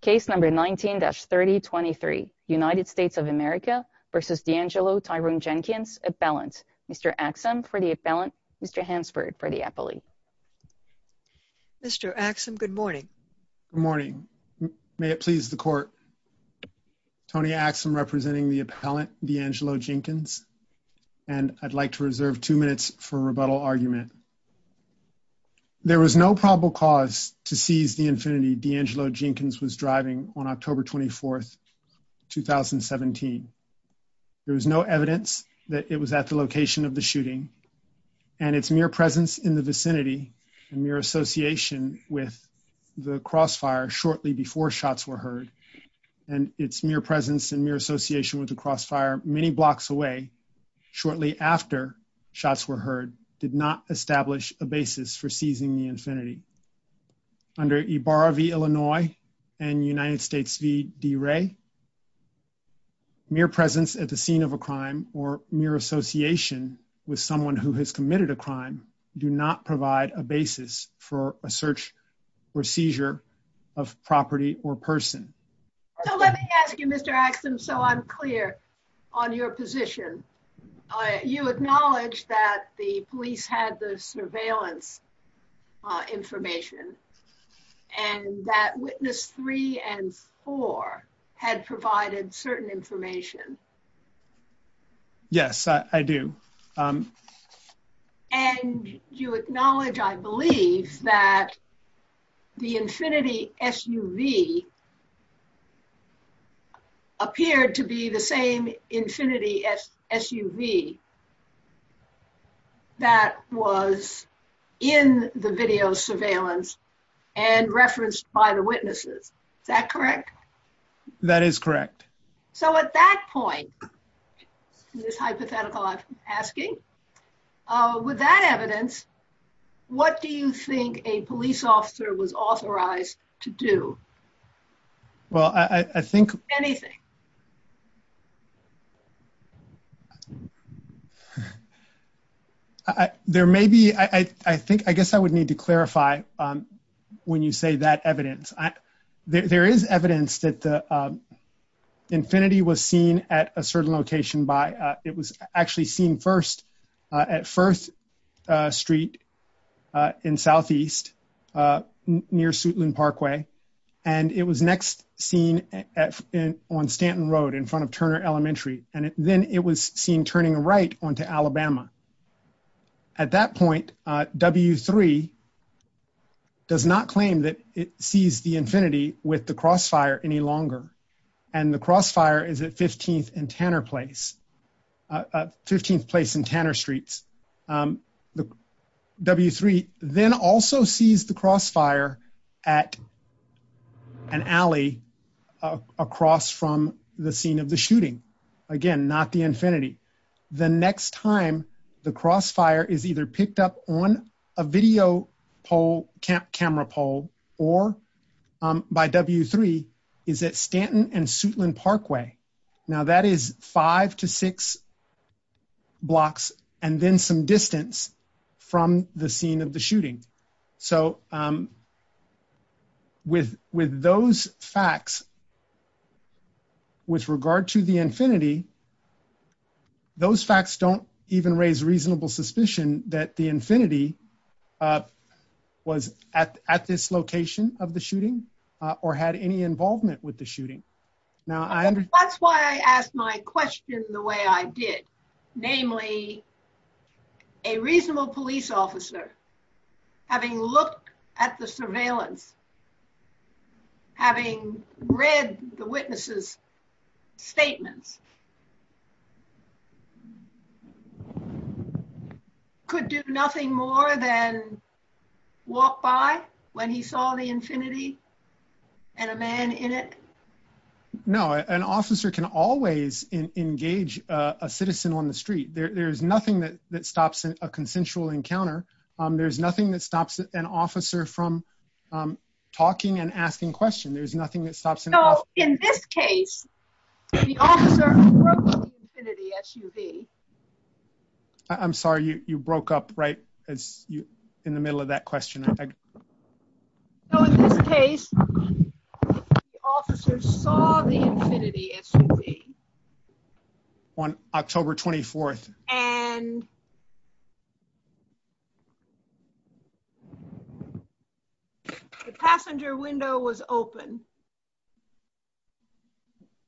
Case number 19-3023, United States of America versus DeAngelo Tyrone Jenkins appellant. Mr. Axum for the appellant, Mr. Hansford for the appellate. Mr. Axum, good morning. Good morning. May it please the court. Tony Axum representing the appellant, DeAngelo Jenkins. And I'd like to reserve two minutes for rebuttal argument. There was no probable cause to seize the infinity DeAngelo Jenkins was driving on October 24th, 2017. There was no evidence that it was at the location of the shooting and its mere presence in the vicinity and mere association with the crossfire shortly before shots were heard. And its mere presence and mere association with the crossfire many blocks away shortly after shots were heard did not establish a basis for seizing the infinity. Under Ibarra v. Illinois and United States v. DeRay, mere presence at the scene of a crime or mere association with someone who has committed a crime do not provide a basis for a search or seizure of property or person. So let me ask you, Mr. Axum, so I'm clear on your position. You acknowledge that the police had the surveillance information and that witness three and four had provided certain information. Yes, I do. And you acknowledge, I believe, that the infinity SUV appeared to be the same infinity SUV that was in the video surveillance and referenced by the witnesses, is that correct? That is correct. So at that point, this hypothetical I'm asking, with that evidence, what do you think a police officer was authorized to do? Well, I think- Anything. There may be, I think, I guess I would need to clarify when you say that evidence. There is evidence that the infinity was seen at a certain location by, it was actually seen first at First Street in Southeast near Suitland Parkway. And it was next seen on Stanton Road in front of Turner Elementary. And then it was seen turning right onto Alabama. At that point, W-3 does not claim that it sees the infinity with the crossfire any longer. And the crossfire is at 15th and Tanner Place, 15th Place and Tanner Streets. W-3 then also sees the crossfire at an alley across from the scene of the shooting. Again, not the infinity. The next time the crossfire is either picked up on a video camera pole or by W-3 is at Stanton and Suitland Parkway. Now that is five to six blocks and then some distance from the scene of the shooting. So with those facts, with regard to the infinity, those facts don't even raise reasonable suspicion that the infinity was at this location of the shooting or had any involvement with the shooting. Now I- That's why I asked my question the way I did, namely a reasonable police officer having looked at the surveillance, having read the witnesses' statements, could do nothing more than walk by when he saw the infinity and a man in it? No, an officer can always engage a citizen on the street. There's nothing that stops a consensual encounter. There's nothing that stops an officer from talking and asking questions. There's nothing that stops an officer- No, in this case, the officer broke up the infinity SUV. I'm sorry, you broke up right in the middle of that question. No, in this case, the officer saw the infinity SUV. On October 24th. And the passenger window was open.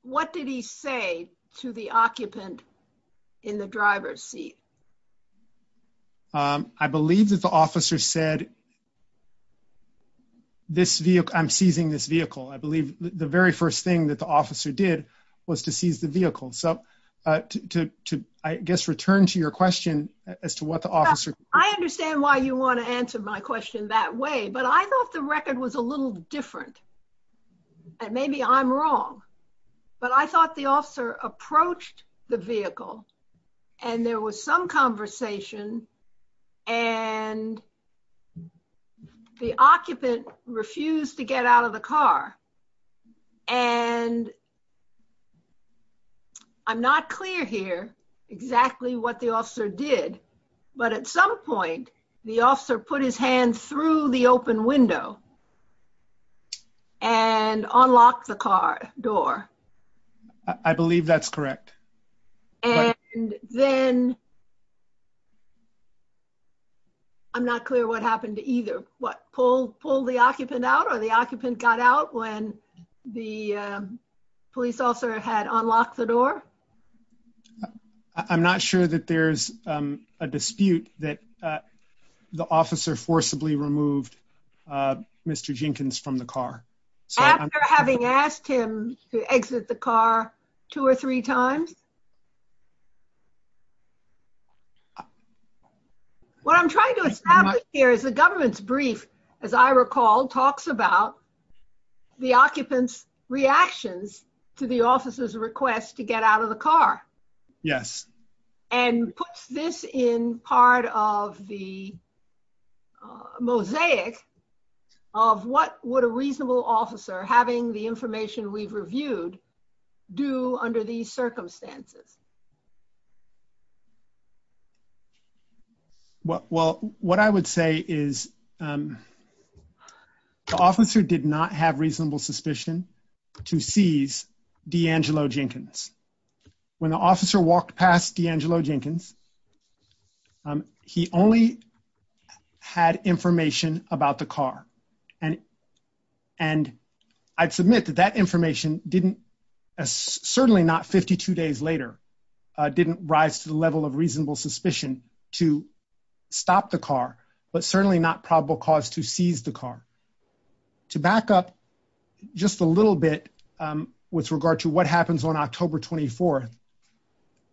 What did he say to the occupant in the driver's seat? I believe that the officer said, this vehicle, I'm seizing this vehicle. I believe the very first thing that the officer did was to seize the vehicle. So to, I guess, return to your question as to what the officer- I understand why you wanna answer my question that way, but I thought the record was a little different. And maybe I'm wrong, but I thought the officer approached the vehicle and there was some conversation and the occupant refused to get out of the car. And I'm not clear here exactly what the officer did, but at some point, the officer put his hand through the open window and unlocked the car door. I believe that's correct. And then, I'm not clear what happened to either. What, pulled the occupant out or the occupant got out when the police officer had unlocked the door? I'm not sure that there's a dispute that the officer forcibly removed Mr. Jenkins from the car. After having asked him to exit the car two or three times? As I recall, talks about the occupant's reactions to the officer's request to get out of the car. Yes. And puts this in part of the mosaic of what would a reasonable officer having the information we've reviewed do under these circumstances? Well, what I would say is the officer did not have reasonable suspicion to seize D'Angelo Jenkins. When the officer walked past D'Angelo Jenkins, he only had information about the car. And I'd submit that that information didn't, certainly not 52 days later, didn't rise to the level of reasonable suspicion to stop the car, but certainly not probable cause to seize the car. To back up just a little bit with regard to what happens on October 24th,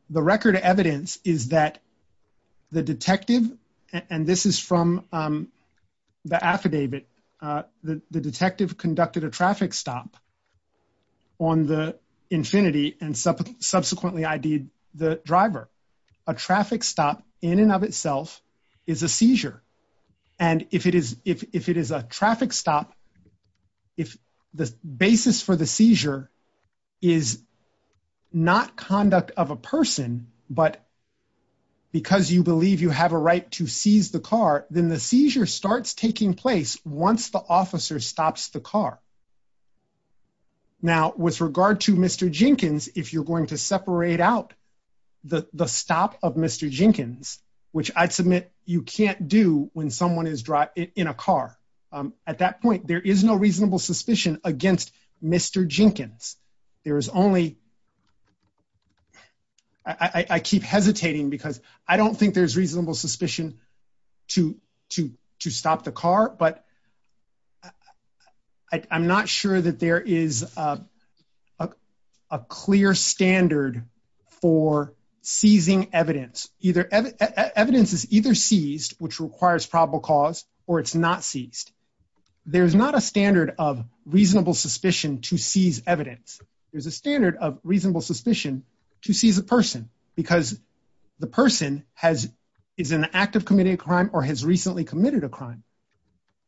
the record evidence is that the detective, and this is from the affidavit, the detective conducted a traffic stop on the Infinity and subsequently ID'd the driver. A traffic stop in and of itself is a seizure. And if it is a traffic stop, if the basis for the seizure is not conduct of a person, but because you believe you have a right to seize the car, then the seizure starts taking place once the officer stops the car. Now, with regard to Mr. Jenkins, if you're going to separate out the stop of Mr. Jenkins, which I'd submit you can't do when someone is in a car, at that point, there is no reasonable suspicion against Mr. Jenkins. There is only, I keep hesitating because I don't think there's reasonable suspicion to stop the car, but I'm not sure that there is a clear standard for seizing evidence. Either evidence is either seized, which requires probable cause, or it's not seized. There's not a standard of reasonable suspicion to seize evidence. There's a standard of reasonable suspicion to seize a person because the person is in the act of committing a crime or has recently committed a crime.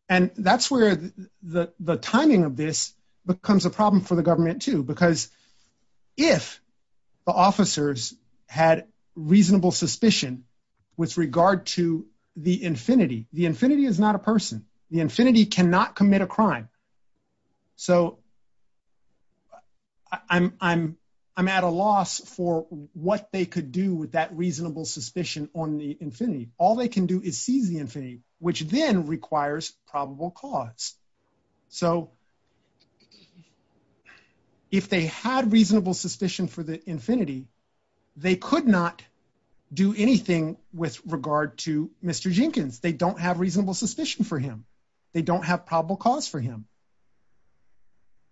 And that's where the timing of this becomes a problem for the government too, because if the officers had reasonable suspicion with regard to the infinity, the infinity is not a person, the infinity cannot commit a crime. So I'm at a loss for what they could do with that reasonable suspicion on the infinity. All they can do is seize the infinity, which then requires probable cause. So if they had reasonable suspicion for the infinity, they could not do anything with regard to Mr. Jenkins. They don't have reasonable suspicion for him. They don't have probable cause for him.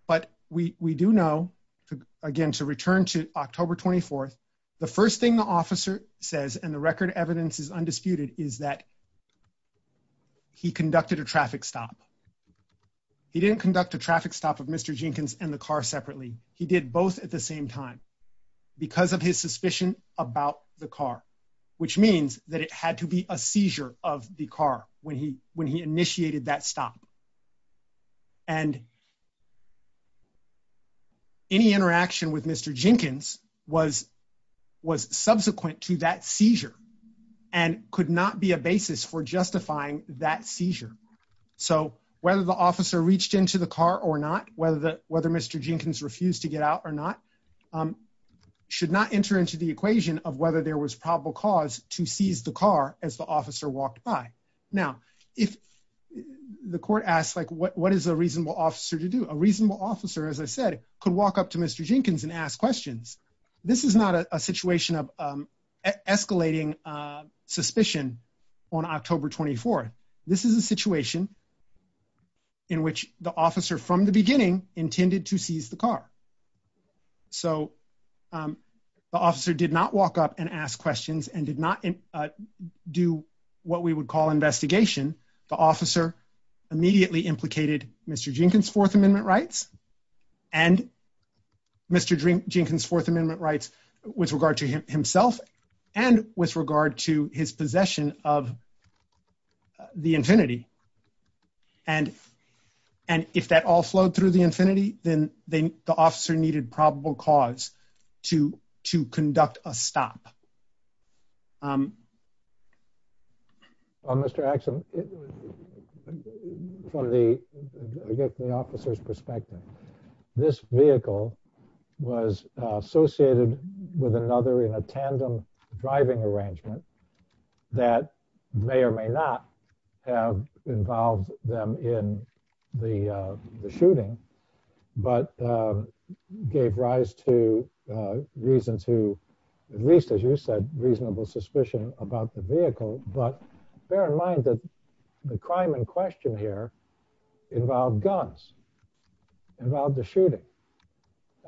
But we do know, again, to return to October 24th, the first thing the officer says, and the record evidence is undisputed, is that he conducted a traffic stop. He didn't conduct a traffic stop of Mr. Jenkins and the car separately. He did both at the same time because of his suspicion about the car, which means that it had to be a seizure of the car when he initiated that stop. And any interaction with Mr. Jenkins was subsequent to that seizure and could not be a basis for justifying that seizure. So whether the officer reached into the car or not, whether Mr. Jenkins refused to get out or not, should not enter into the equation of whether there was probable cause to seize the car as the officer walked by. Now, if the court asks, like what is a reasonable officer to do? A reasonable officer, as I said, could walk up to Mr. Jenkins and ask questions. This is not a situation of escalating suspicion on October 24th. This is a situation in which the officer from the beginning intended to seize the car. So the officer did not walk up and ask questions and did not do what we would call investigation. The officer immediately implicated Mr. Jenkins' Fourth Amendment rights and Mr. Jenkins' Fourth Amendment rights with regard to himself and with regard to his possession of the Infiniti. And if that all flowed through the Infiniti, then the officer needed probable cause to conduct a stop. Mr. Axelrod, from the officer's perspective, this vehicle was associated with another in a tandem driving arrangement that may or may not have involved them in the shooting, but gave rise to reasons who, at least as you said, reasonable suspicion about the vehicle. But bear in mind that the crime in question here involved guns, involved the shooting.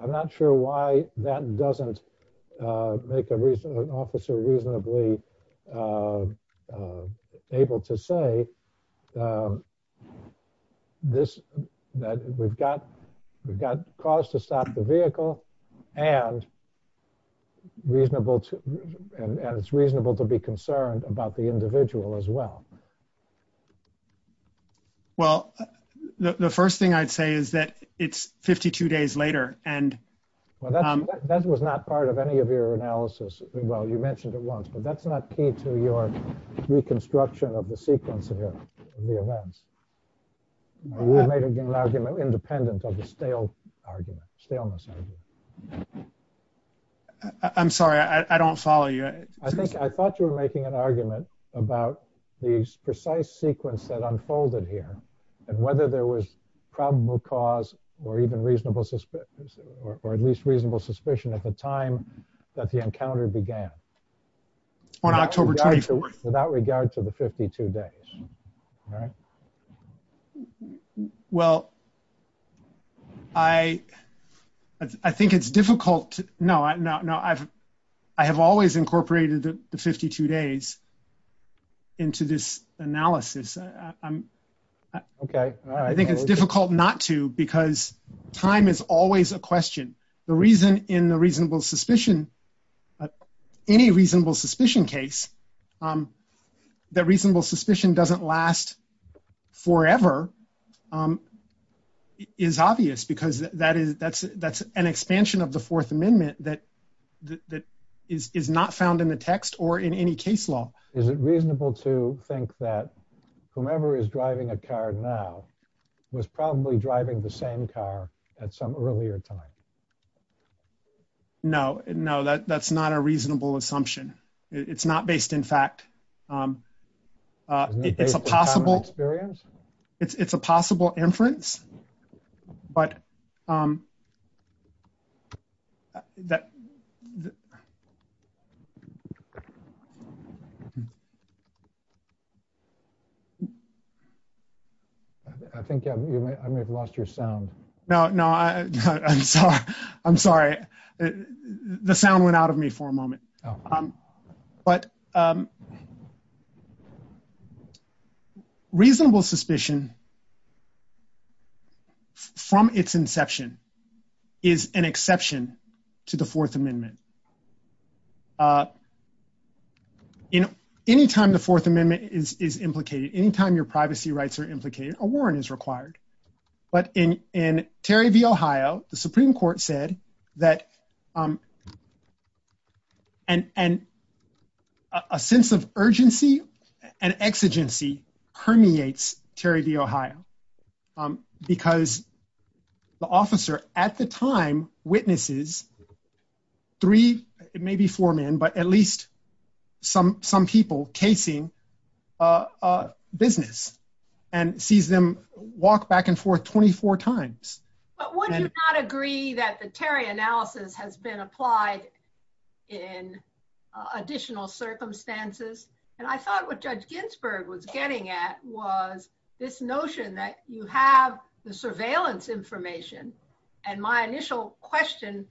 I'm not sure why that doesn't make an officer reasonably able to say that we've got cause to stop the vehicle and it's reasonable to be concerned about the individual as well. Well, the first thing I'd say is that it's 52 days later and- Well, that was not part of any of your analysis. Well, you mentioned it once, but that's not key to your reconstruction of the sequence of the events. You made an argument independent of the stale argument, staleness argument. I'm sorry, I don't follow you. I think, I thought you were making an argument about the precise sequence that unfolded here and whether there was probable cause or even reasonable suspicion, or at least reasonable suspicion at the time that the encounter began. On October 24th. Without regard to the 52 days, all right? Well, I think it's difficult. No, I have always incorporated the 52 days into this analysis. Okay, all right. I think it's difficult not to because time is always a question. The reason in the reasonable suspicion, any reasonable suspicion case, that reasonable suspicion doesn't last forever is obvious because that's an expansion of the Fourth Amendment that is not found in the text or in any case law. Is it reasonable to think that whomever is driving a car now was probably driving the same car at some earlier time? No, no, that's not a reasonable assumption. It's not based in fact. It's a possible- It's not based on time and experience? It's a possible inference, but- I think I may have lost your sound. No, no, I'm sorry. But reasonable suspicion from its inception is an exception to the Fourth Amendment. Anytime the Fourth Amendment is implicated, anytime your privacy rights are implicated, a warrant is required. But in Terry v. Ohio, the Supreme Court said that, and a sense of urgency and exigency permeates Terry v. Ohio because the officer at the time witnesses three, maybe four men, but at least some people casing a business and sees them walk back and forth 24 times. But would you not agree that the Terry analysis has been applied in additional circumstances? And I thought what Judge Ginsburg was getting at was this notion that you have the surveillance information. And my initial question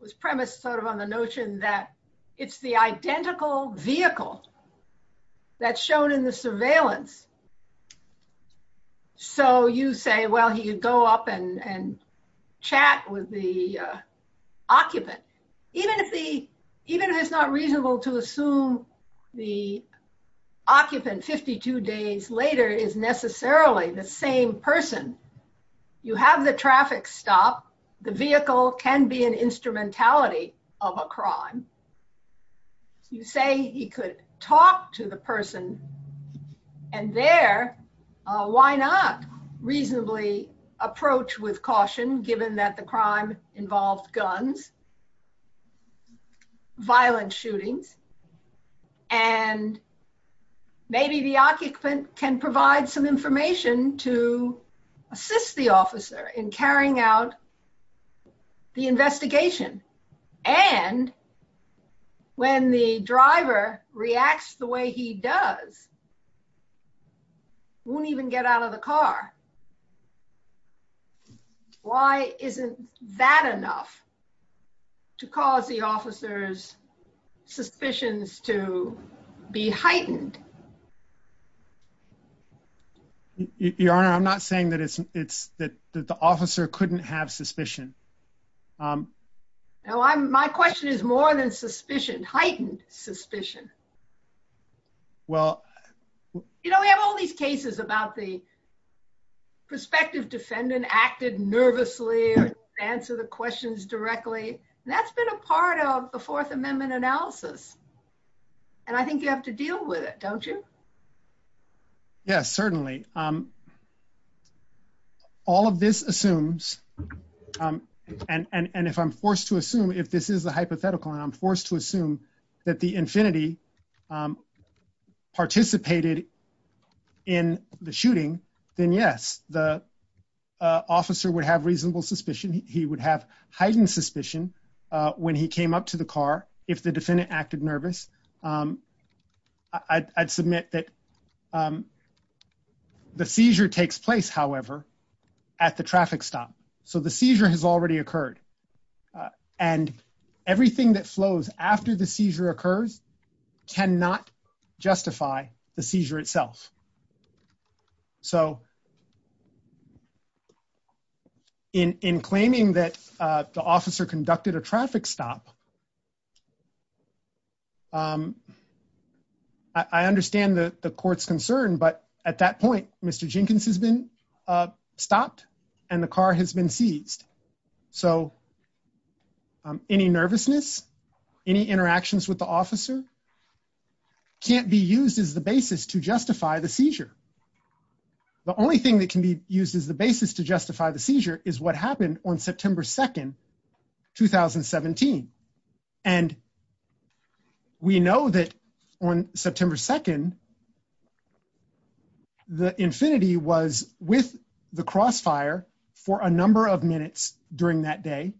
was premised sort of on the notion that it's the identical vehicle that's shown in the surveillance. So you say, well, he would go up and chat with the occupant. Even if it's not reasonable to assume the occupant 52 days later is necessarily the same person. You have the traffic stop. The vehicle can be an instrumentality of a crime. You say he could talk to the person and there, why not reasonably approach with caution given that the crime involved guns, violent shootings, and maybe the occupant can provide some information to assist the officer in carrying out the investigation. And when the driver reacts the way he does, he won't even get out of the car. Why isn't that enough to cause the officer's suspicions to be heightened? Your Honor, I'm not saying that the officer couldn't have suspicion. No, my question is more than suspicion, heightened suspicion. You know, we have all these cases about the prospective defendant acted nervously or answer the questions directly. And that's been a part of the Fourth Amendment analysis. And I think you have to deal with it, don't you? Yes, certainly. All of this assumes, and if I'm forced to assume, if this is the hypothetical and I'm forced to assume that the infinity participated in the shooting, then yes, the officer would have reasonable suspicion. He would have heightened suspicion when he came up to the car, if the defendant acted nervous. I'd submit that the seizure takes place, however, at the traffic stop. So the seizure has already occurred. And everything that flows after the seizure occurs cannot justify the seizure itself. So in claiming that the officer conducted a traffic stop, I understand the court's concern, but at that point, Mr. Jenkins has been stopped and the car has been seized. So any nervousness, any interactions with the officer can't be used as the basis to justify the seizure. The only thing that can be used as the basis to justify the seizure is what happened on September 2nd, 2017. And we know that on September 2nd, the infinity was with the crossfire for a number of minutes during that day.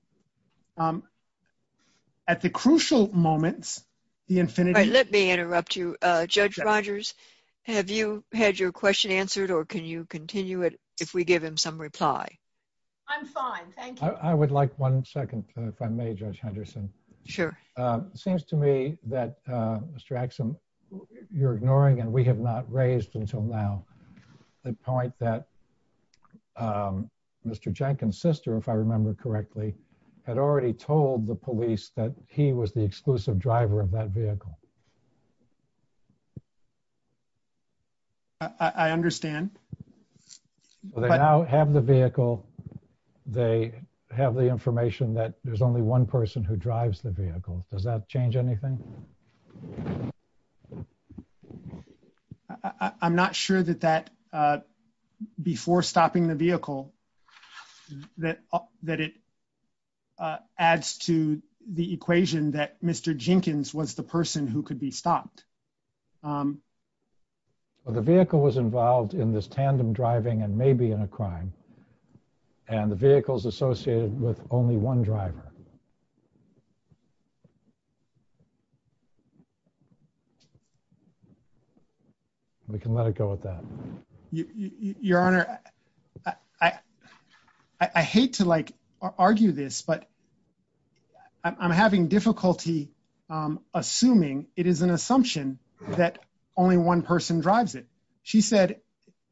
At the crucial moments, the infinity- Let me interrupt you. Judge Rogers, have you had your question answered or can you continue it if we give him some reply? I'm fine, thank you. I would like one second if I may, Judge Henderson. Sure. Seems to me that Mr. Axsom, you're ignoring and we have not raised until now the point that Mr. Jenkins' sister, if I remember correctly, had already told the police that he was the exclusive driver of that vehicle. I understand. Well, they now have the vehicle. They have the information that there's only one person who drives the vehicle. Does that change anything? I'm not sure that that before stopping the vehicle, that it adds to the equation that Mr. Jenkins was the person who could be stopped. Well, the vehicle was involved in this tandem driving and may be in a crime. And the vehicle's associated with only one driver. We can let it go with that. Your Honor, I hate to like argue this, but I'm having difficulty assuming it is an assumption that only one person drives it. She said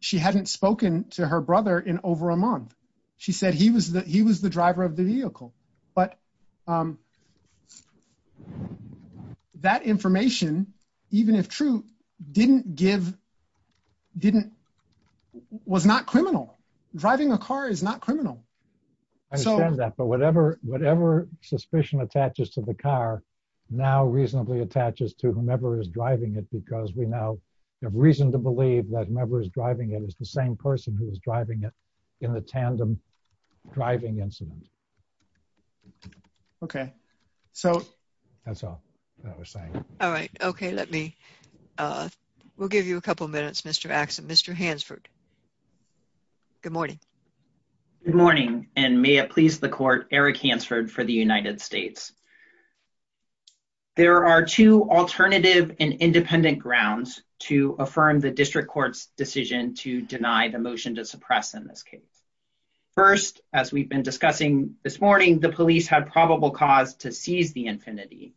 she hadn't spoken to her brother in over a month. She said he was the driver of the vehicle, but that information, even if true, was not criminal. Driving a car is not criminal. I understand that, but whatever suspicion attaches to the car now reasonably attaches to whomever is driving it, because we now have reason to believe that whomever is driving it is the same person who was driving it in the tandem driving incident. Okay, so that's all I was saying. All right, okay. Let me, we'll give you a couple minutes, Mr. Axon. Mr. Hansford, good morning. Good morning, and may it please the court, Eric Hansford for the United States. There are two alternative and independent grounds to affirm the district court's decision to deny the motion to suppress in this case. First, as we've been discussing this morning, the police had probable cause to seize the Infiniti,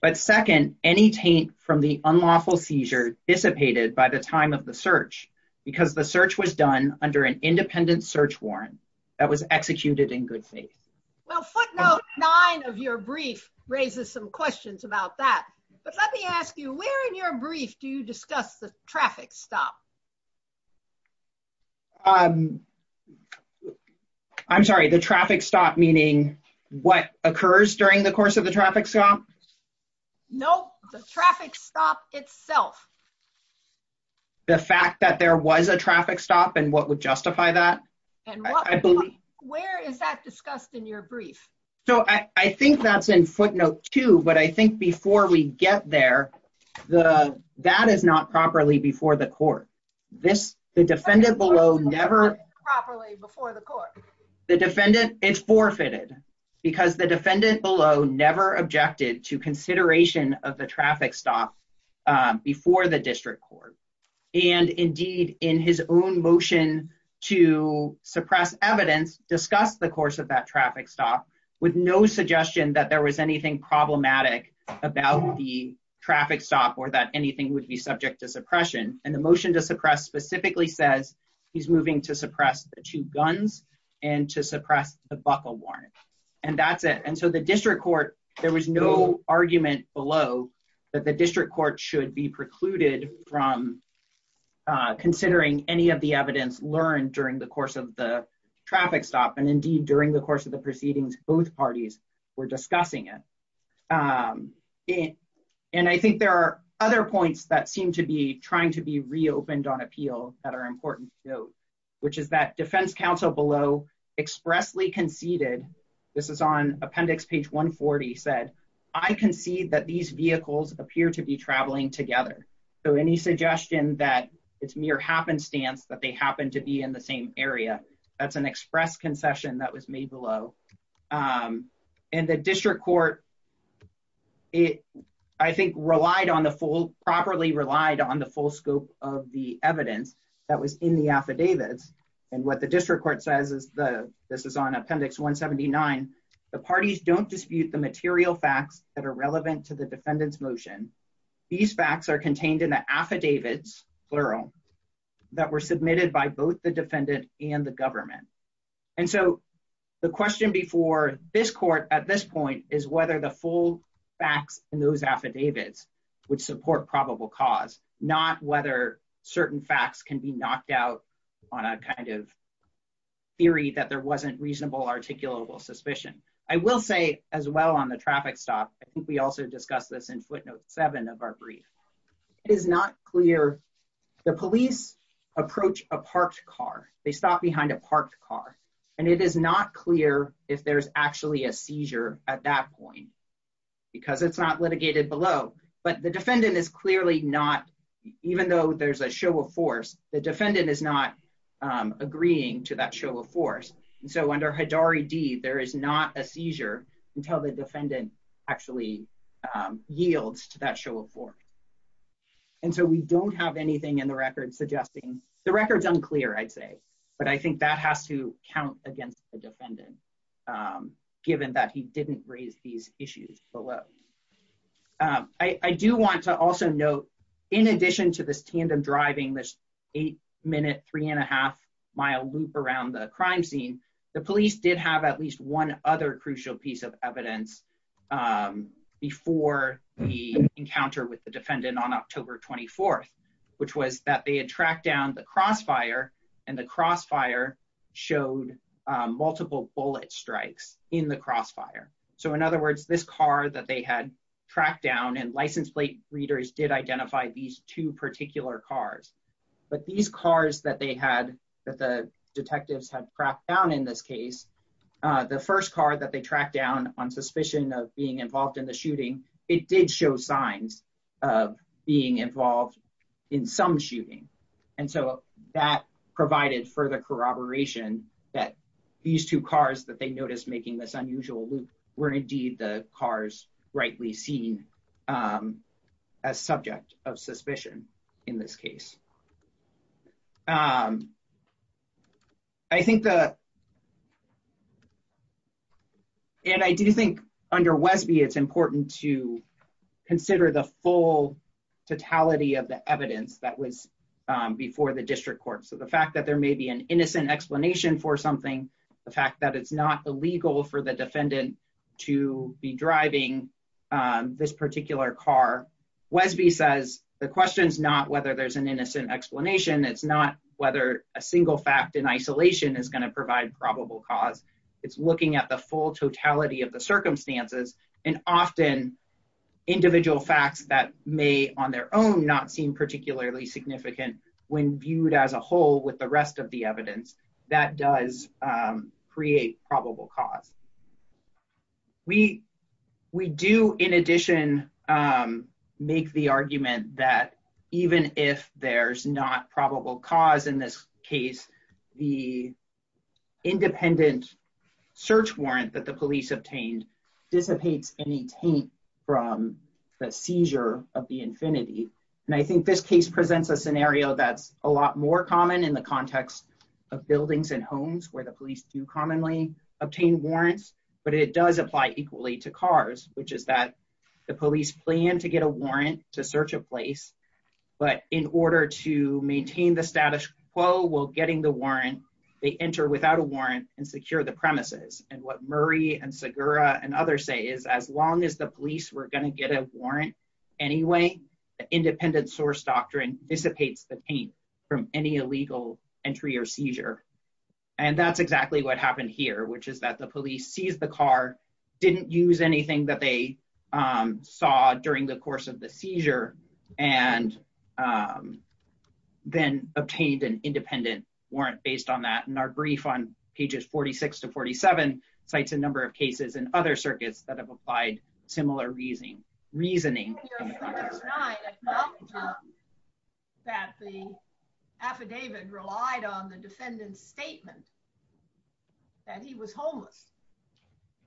but second, any taint from the unlawful seizure dissipated by the time of the search, because the search was done under an independent search warrant that was executed in good faith. Well, footnote nine of your brief raises some questions about that, but let me ask you, where in your brief do you discuss the traffic stop? I'm sorry, the traffic stop, meaning what occurs during the course of the traffic stop? No, the traffic stop itself. The fact that there was a traffic stop and what would justify that? And where is that discussed in your brief? So I think that's in footnote two, that is not properly before the court. This, the defendant below never- Properly before the court. The defendant, it's forfeited, because the defendant below never objected to consideration of the traffic stop before the district court. And indeed, in his own motion to suppress evidence, discussed the course of that traffic stop with no suggestion that there was anything problematic about the traffic stop or that anything would be subject to suppression. And the motion to suppress specifically says he's moving to suppress the two guns and to suppress the buckle warrant. And that's it. And so the district court, there was no argument below that the district court should be precluded from considering any of the evidence learned during the course of the traffic stop. And indeed, during the course of the proceedings, both parties were discussing it. And I think there are other points that seem to be trying to be reopened on appeal that are important to note, which is that defense counsel below expressly conceded, this is on appendix page 140, said, I concede that these vehicles appear to be traveling together. So any suggestion that it's mere happenstance that they happen to be in the same area, that's an express concession that was made below. And the district court, it, I think, relied on the full, properly relied on the full scope of the evidence that was in the affidavits. And what the district court says is the, this is on appendix 179, the parties don't dispute the material facts that are relevant to the defendant's motion. These facts are contained in the affidavits, plural, that were submitted by both the defendant and the government. And so the question before this court at this point is whether the full facts in those affidavits would support probable cause, not whether certain facts can be knocked out on a kind of theory that there wasn't reasonable articulable suspicion. I will say as well on the traffic stop, I think we also discussed this in footnote seven of our brief, it is not clear, the police approach a parked car, they stop behind a parked car, and it is not clear if there's actually a seizure at that point, because it's not litigated below, but the defendant is clearly not, even though there's a show of force, the defendant is not agreeing to that show of force. And so under Hidari D, there is not a seizure until the defendant actually yields to that show of force. And so we don't have anything in the record suggesting, but I think that has to count against the defendant, given that he didn't raise these issues below. I do want to also note, in addition to this tandem driving, this eight minute, three and a half mile loop around the crime scene, the police did have at least one other crucial piece of evidence before the encounter with the defendant on October 24th, which was that they had tracked down the crossfire, and the crossfire showed multiple bullet strikes in the crossfire. So in other words, this car that they had tracked down and license plate readers did identify these two particular cars, but these cars that they had, that the detectives have tracked down in this case, the first car that they tracked down on suspicion of being involved in the shooting, it did show signs of being involved in some shooting. And so that provided further corroboration that these two cars that they noticed making this unusual loop were indeed the cars rightly seen as subject of suspicion in this case. And I do think under Wesby, it's important to consider the full totality of the evidence that was before the district court. So the fact that there may be an innocent explanation for something, the fact that it's not illegal for the defendant to be driving this particular car. Wesby says the question's not whether there's an innocent explanation, it's not whether a single fact in isolation is gonna provide probable cause. It's looking at the full totality of the circumstances and often individual facts that may on their own not seem particularly significant when viewed as a whole with the rest of the evidence that does create probable cause. We do in addition make the argument that even if there's not probable cause in this case, the independent search warrant that the police obtained dissipates any taint from the seizure of the infinity. And I think this case presents a scenario that's a lot more common in the context of buildings and homes where the police do commonly obtain warrants, but it does apply equally to cars, which is that the police plan to get a warrant to search a place, but in order to maintain the status quo while getting the warrant, they enter without a warrant and secure the premises. And what Murray and Segura and others say is as long as the police were gonna get a warrant anyway, the independent source doctrine dissipates the taint from any illegal entry or seizure. And that's exactly what happened here, which is that the police seized the car, didn't use anything that they saw during the course of the seizure and then obtained an independent warrant based on that. And our brief on pages 46 to 47 cites a number of cases in other circuits that have applied similar reasoning. That the affidavit relied on the defendant's statement that he was homeless.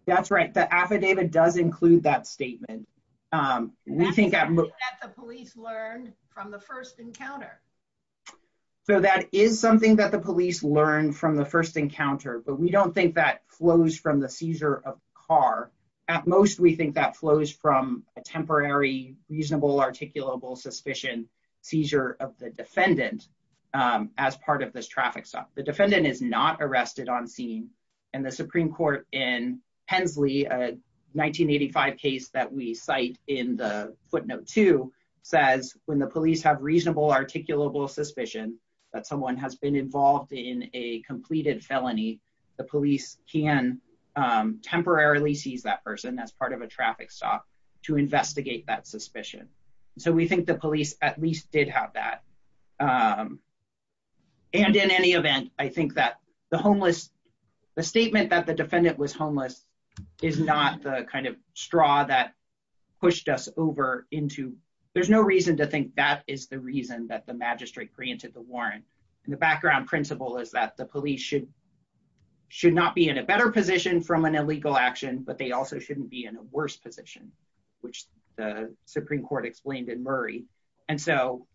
That's right. The affidavit does include that statement. We think that- That's something that the police learned from the first encounter. So that is something that the police learned from the first encounter, but we don't think that flows from the seizure of car. At most, we think that flows from a temporary, reasonable, articulable suspicion seizure of the defendant as part of this traffic stop. The defendant is not arrested on scene and the Supreme Court in Hensley, a 1985 case that we cite in the footnote two says when the police have reasonable articulable suspicion that someone has been involved in a completed felony, the police can temporarily seize that person as part of a traffic stop to investigate that suspicion. So we think the police at least did have that. And in any event, I think that the homeless, the statement that the defendant was homeless is not the kind of straw that pushed us over into, there's no reason to think that is the reason that the magistrate granted the warrant. And the background principle is that the police should not be in a better position from an illegal action, but they also shouldn't be in a worse position, which the Supreme Court explained in Murray. And so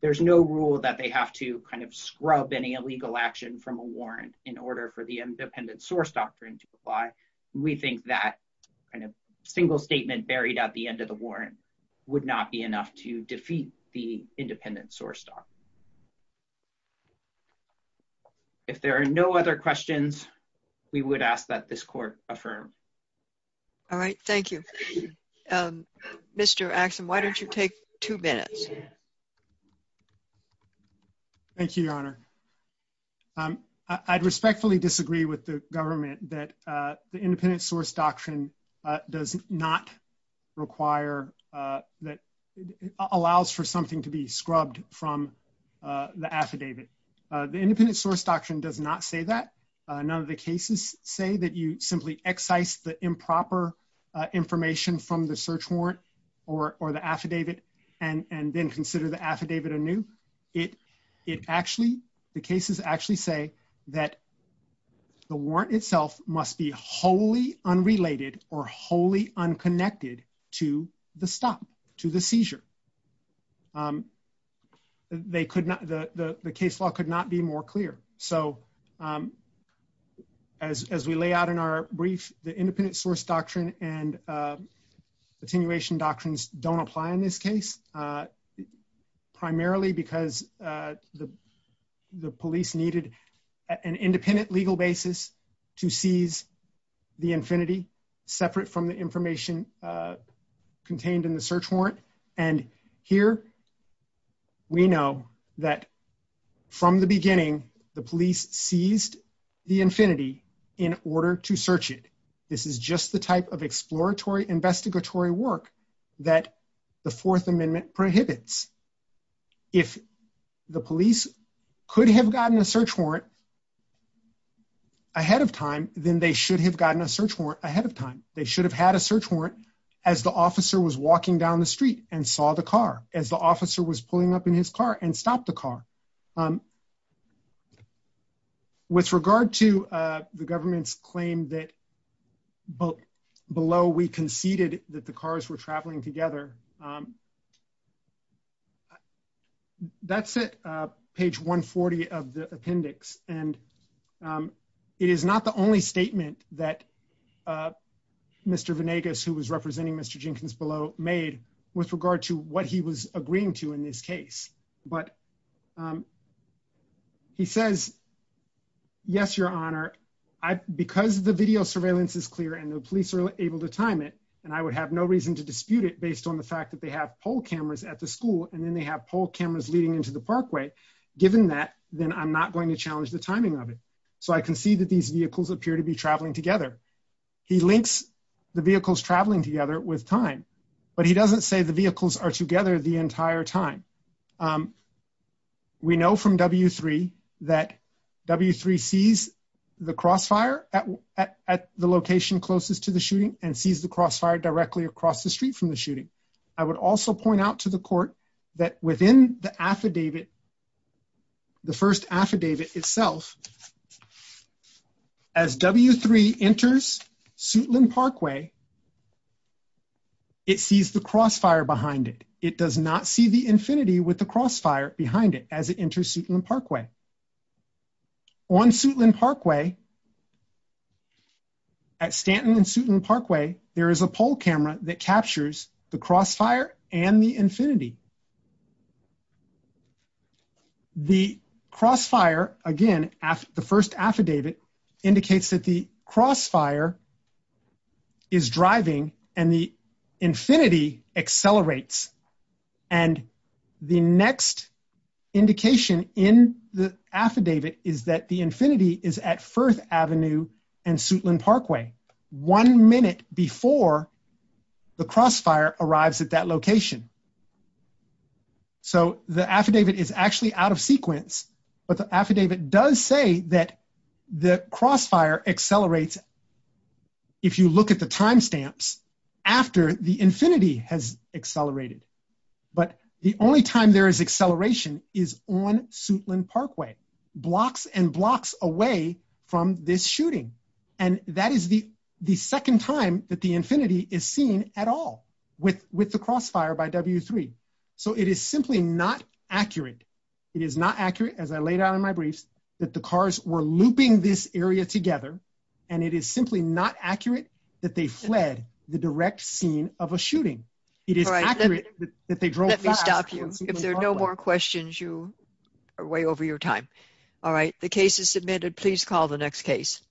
there's no rule that they have to kind of scrub any illegal action from a warrant in order for the independent source doctrine to apply. We think that kind of single statement buried at the end of the warrant would not be enough to defeat the independent source doctrine. If there are no other questions, we would ask that this court affirm. All right, thank you. Mr. Axon, why don't you take two minutes? Thank you, Your Honor. I'd respectfully disagree with the government that the independent source doctrine does not require that, allows for something to be scrubbed from the affidavit. The independent source doctrine does not say that. None of the cases say that you simply excise the improper information from the search warrant or the affidavit and then consider the affidavit anew. The cases actually say that the warrant itself must be wholly unrelated or wholly unconnected to the stop, to the seizure. They could not, the case law could not be more clear. So as we lay out in our brief, the independent source doctrine and attenuation doctrines don't apply in this case, primarily because the police needed an independent legal basis to seize the infinity separate from the information contained in the search warrant. And here we know that from the beginning, the police seized the infinity in order to search it. This is just the type of exploratory investigatory work that the Fourth Amendment prohibits. If the police could have gotten a search warrant ahead of time, then they should have gotten a search warrant ahead of time. They should have had a search warrant as the officer was walking down the street and saw the car, as the officer was pulling up in his car and stopped the car. With regard to the government's claim that below we conceded that the cars were traveling together, that's it, page 140 of the appendix. And it is not the only statement that Mr. Venegas, who was representing Mr. Jenkins below made with regard to what he was agreeing to in this case. But he says, yes, your honor, because the video surveillance is clear and the police are able to time it, and I would have no reason to dispute it based on the fact that they have poll cameras at the school and then they have poll cameras leading into the parkway. Given that, then I'm not going to challenge the timing of it. So I can see that these vehicles appear to be traveling together. He links the vehicles traveling together with time, but he doesn't say the vehicles are together the entire time. We know from W-3 that W-3 sees the crossfire and sees the crossfire directly across the street from the shooting. I would also point out to the court that within the affidavit, the first affidavit itself, as W-3 enters Suitland Parkway, it sees the crossfire behind it. It does not see the infinity with the crossfire behind it as it enters Suitland Parkway. On Suitland Parkway, at Stanton and Suitland Parkway, there is a poll camera that captures the crossfire and the infinity. The crossfire, again, the first affidavit indicates that the crossfire is driving and the infinity accelerates. And the next indication in the affidavit is that the infinity is at Firth Avenue and Suitland Parkway one minute before the crossfire arrives at that location. So the affidavit is actually out of sequence, but the affidavit does say that the crossfire accelerates if you look at the timestamps after the infinity has accelerated. But the only time there is acceleration is on Suitland Parkway, blocks and blocks away from this shooting. And that is the second time that the infinity is seen at all with the crossfire by W3. So it is simply not accurate. It is not accurate, as I laid out in my briefs, that the cars were looping this area together, and it is simply not accurate that they fled the direct scene of a shooting. It is accurate that they drove past- Let me stop you. If there are no more questions, you are way over your time. All right, the case is submitted. Please call the next case.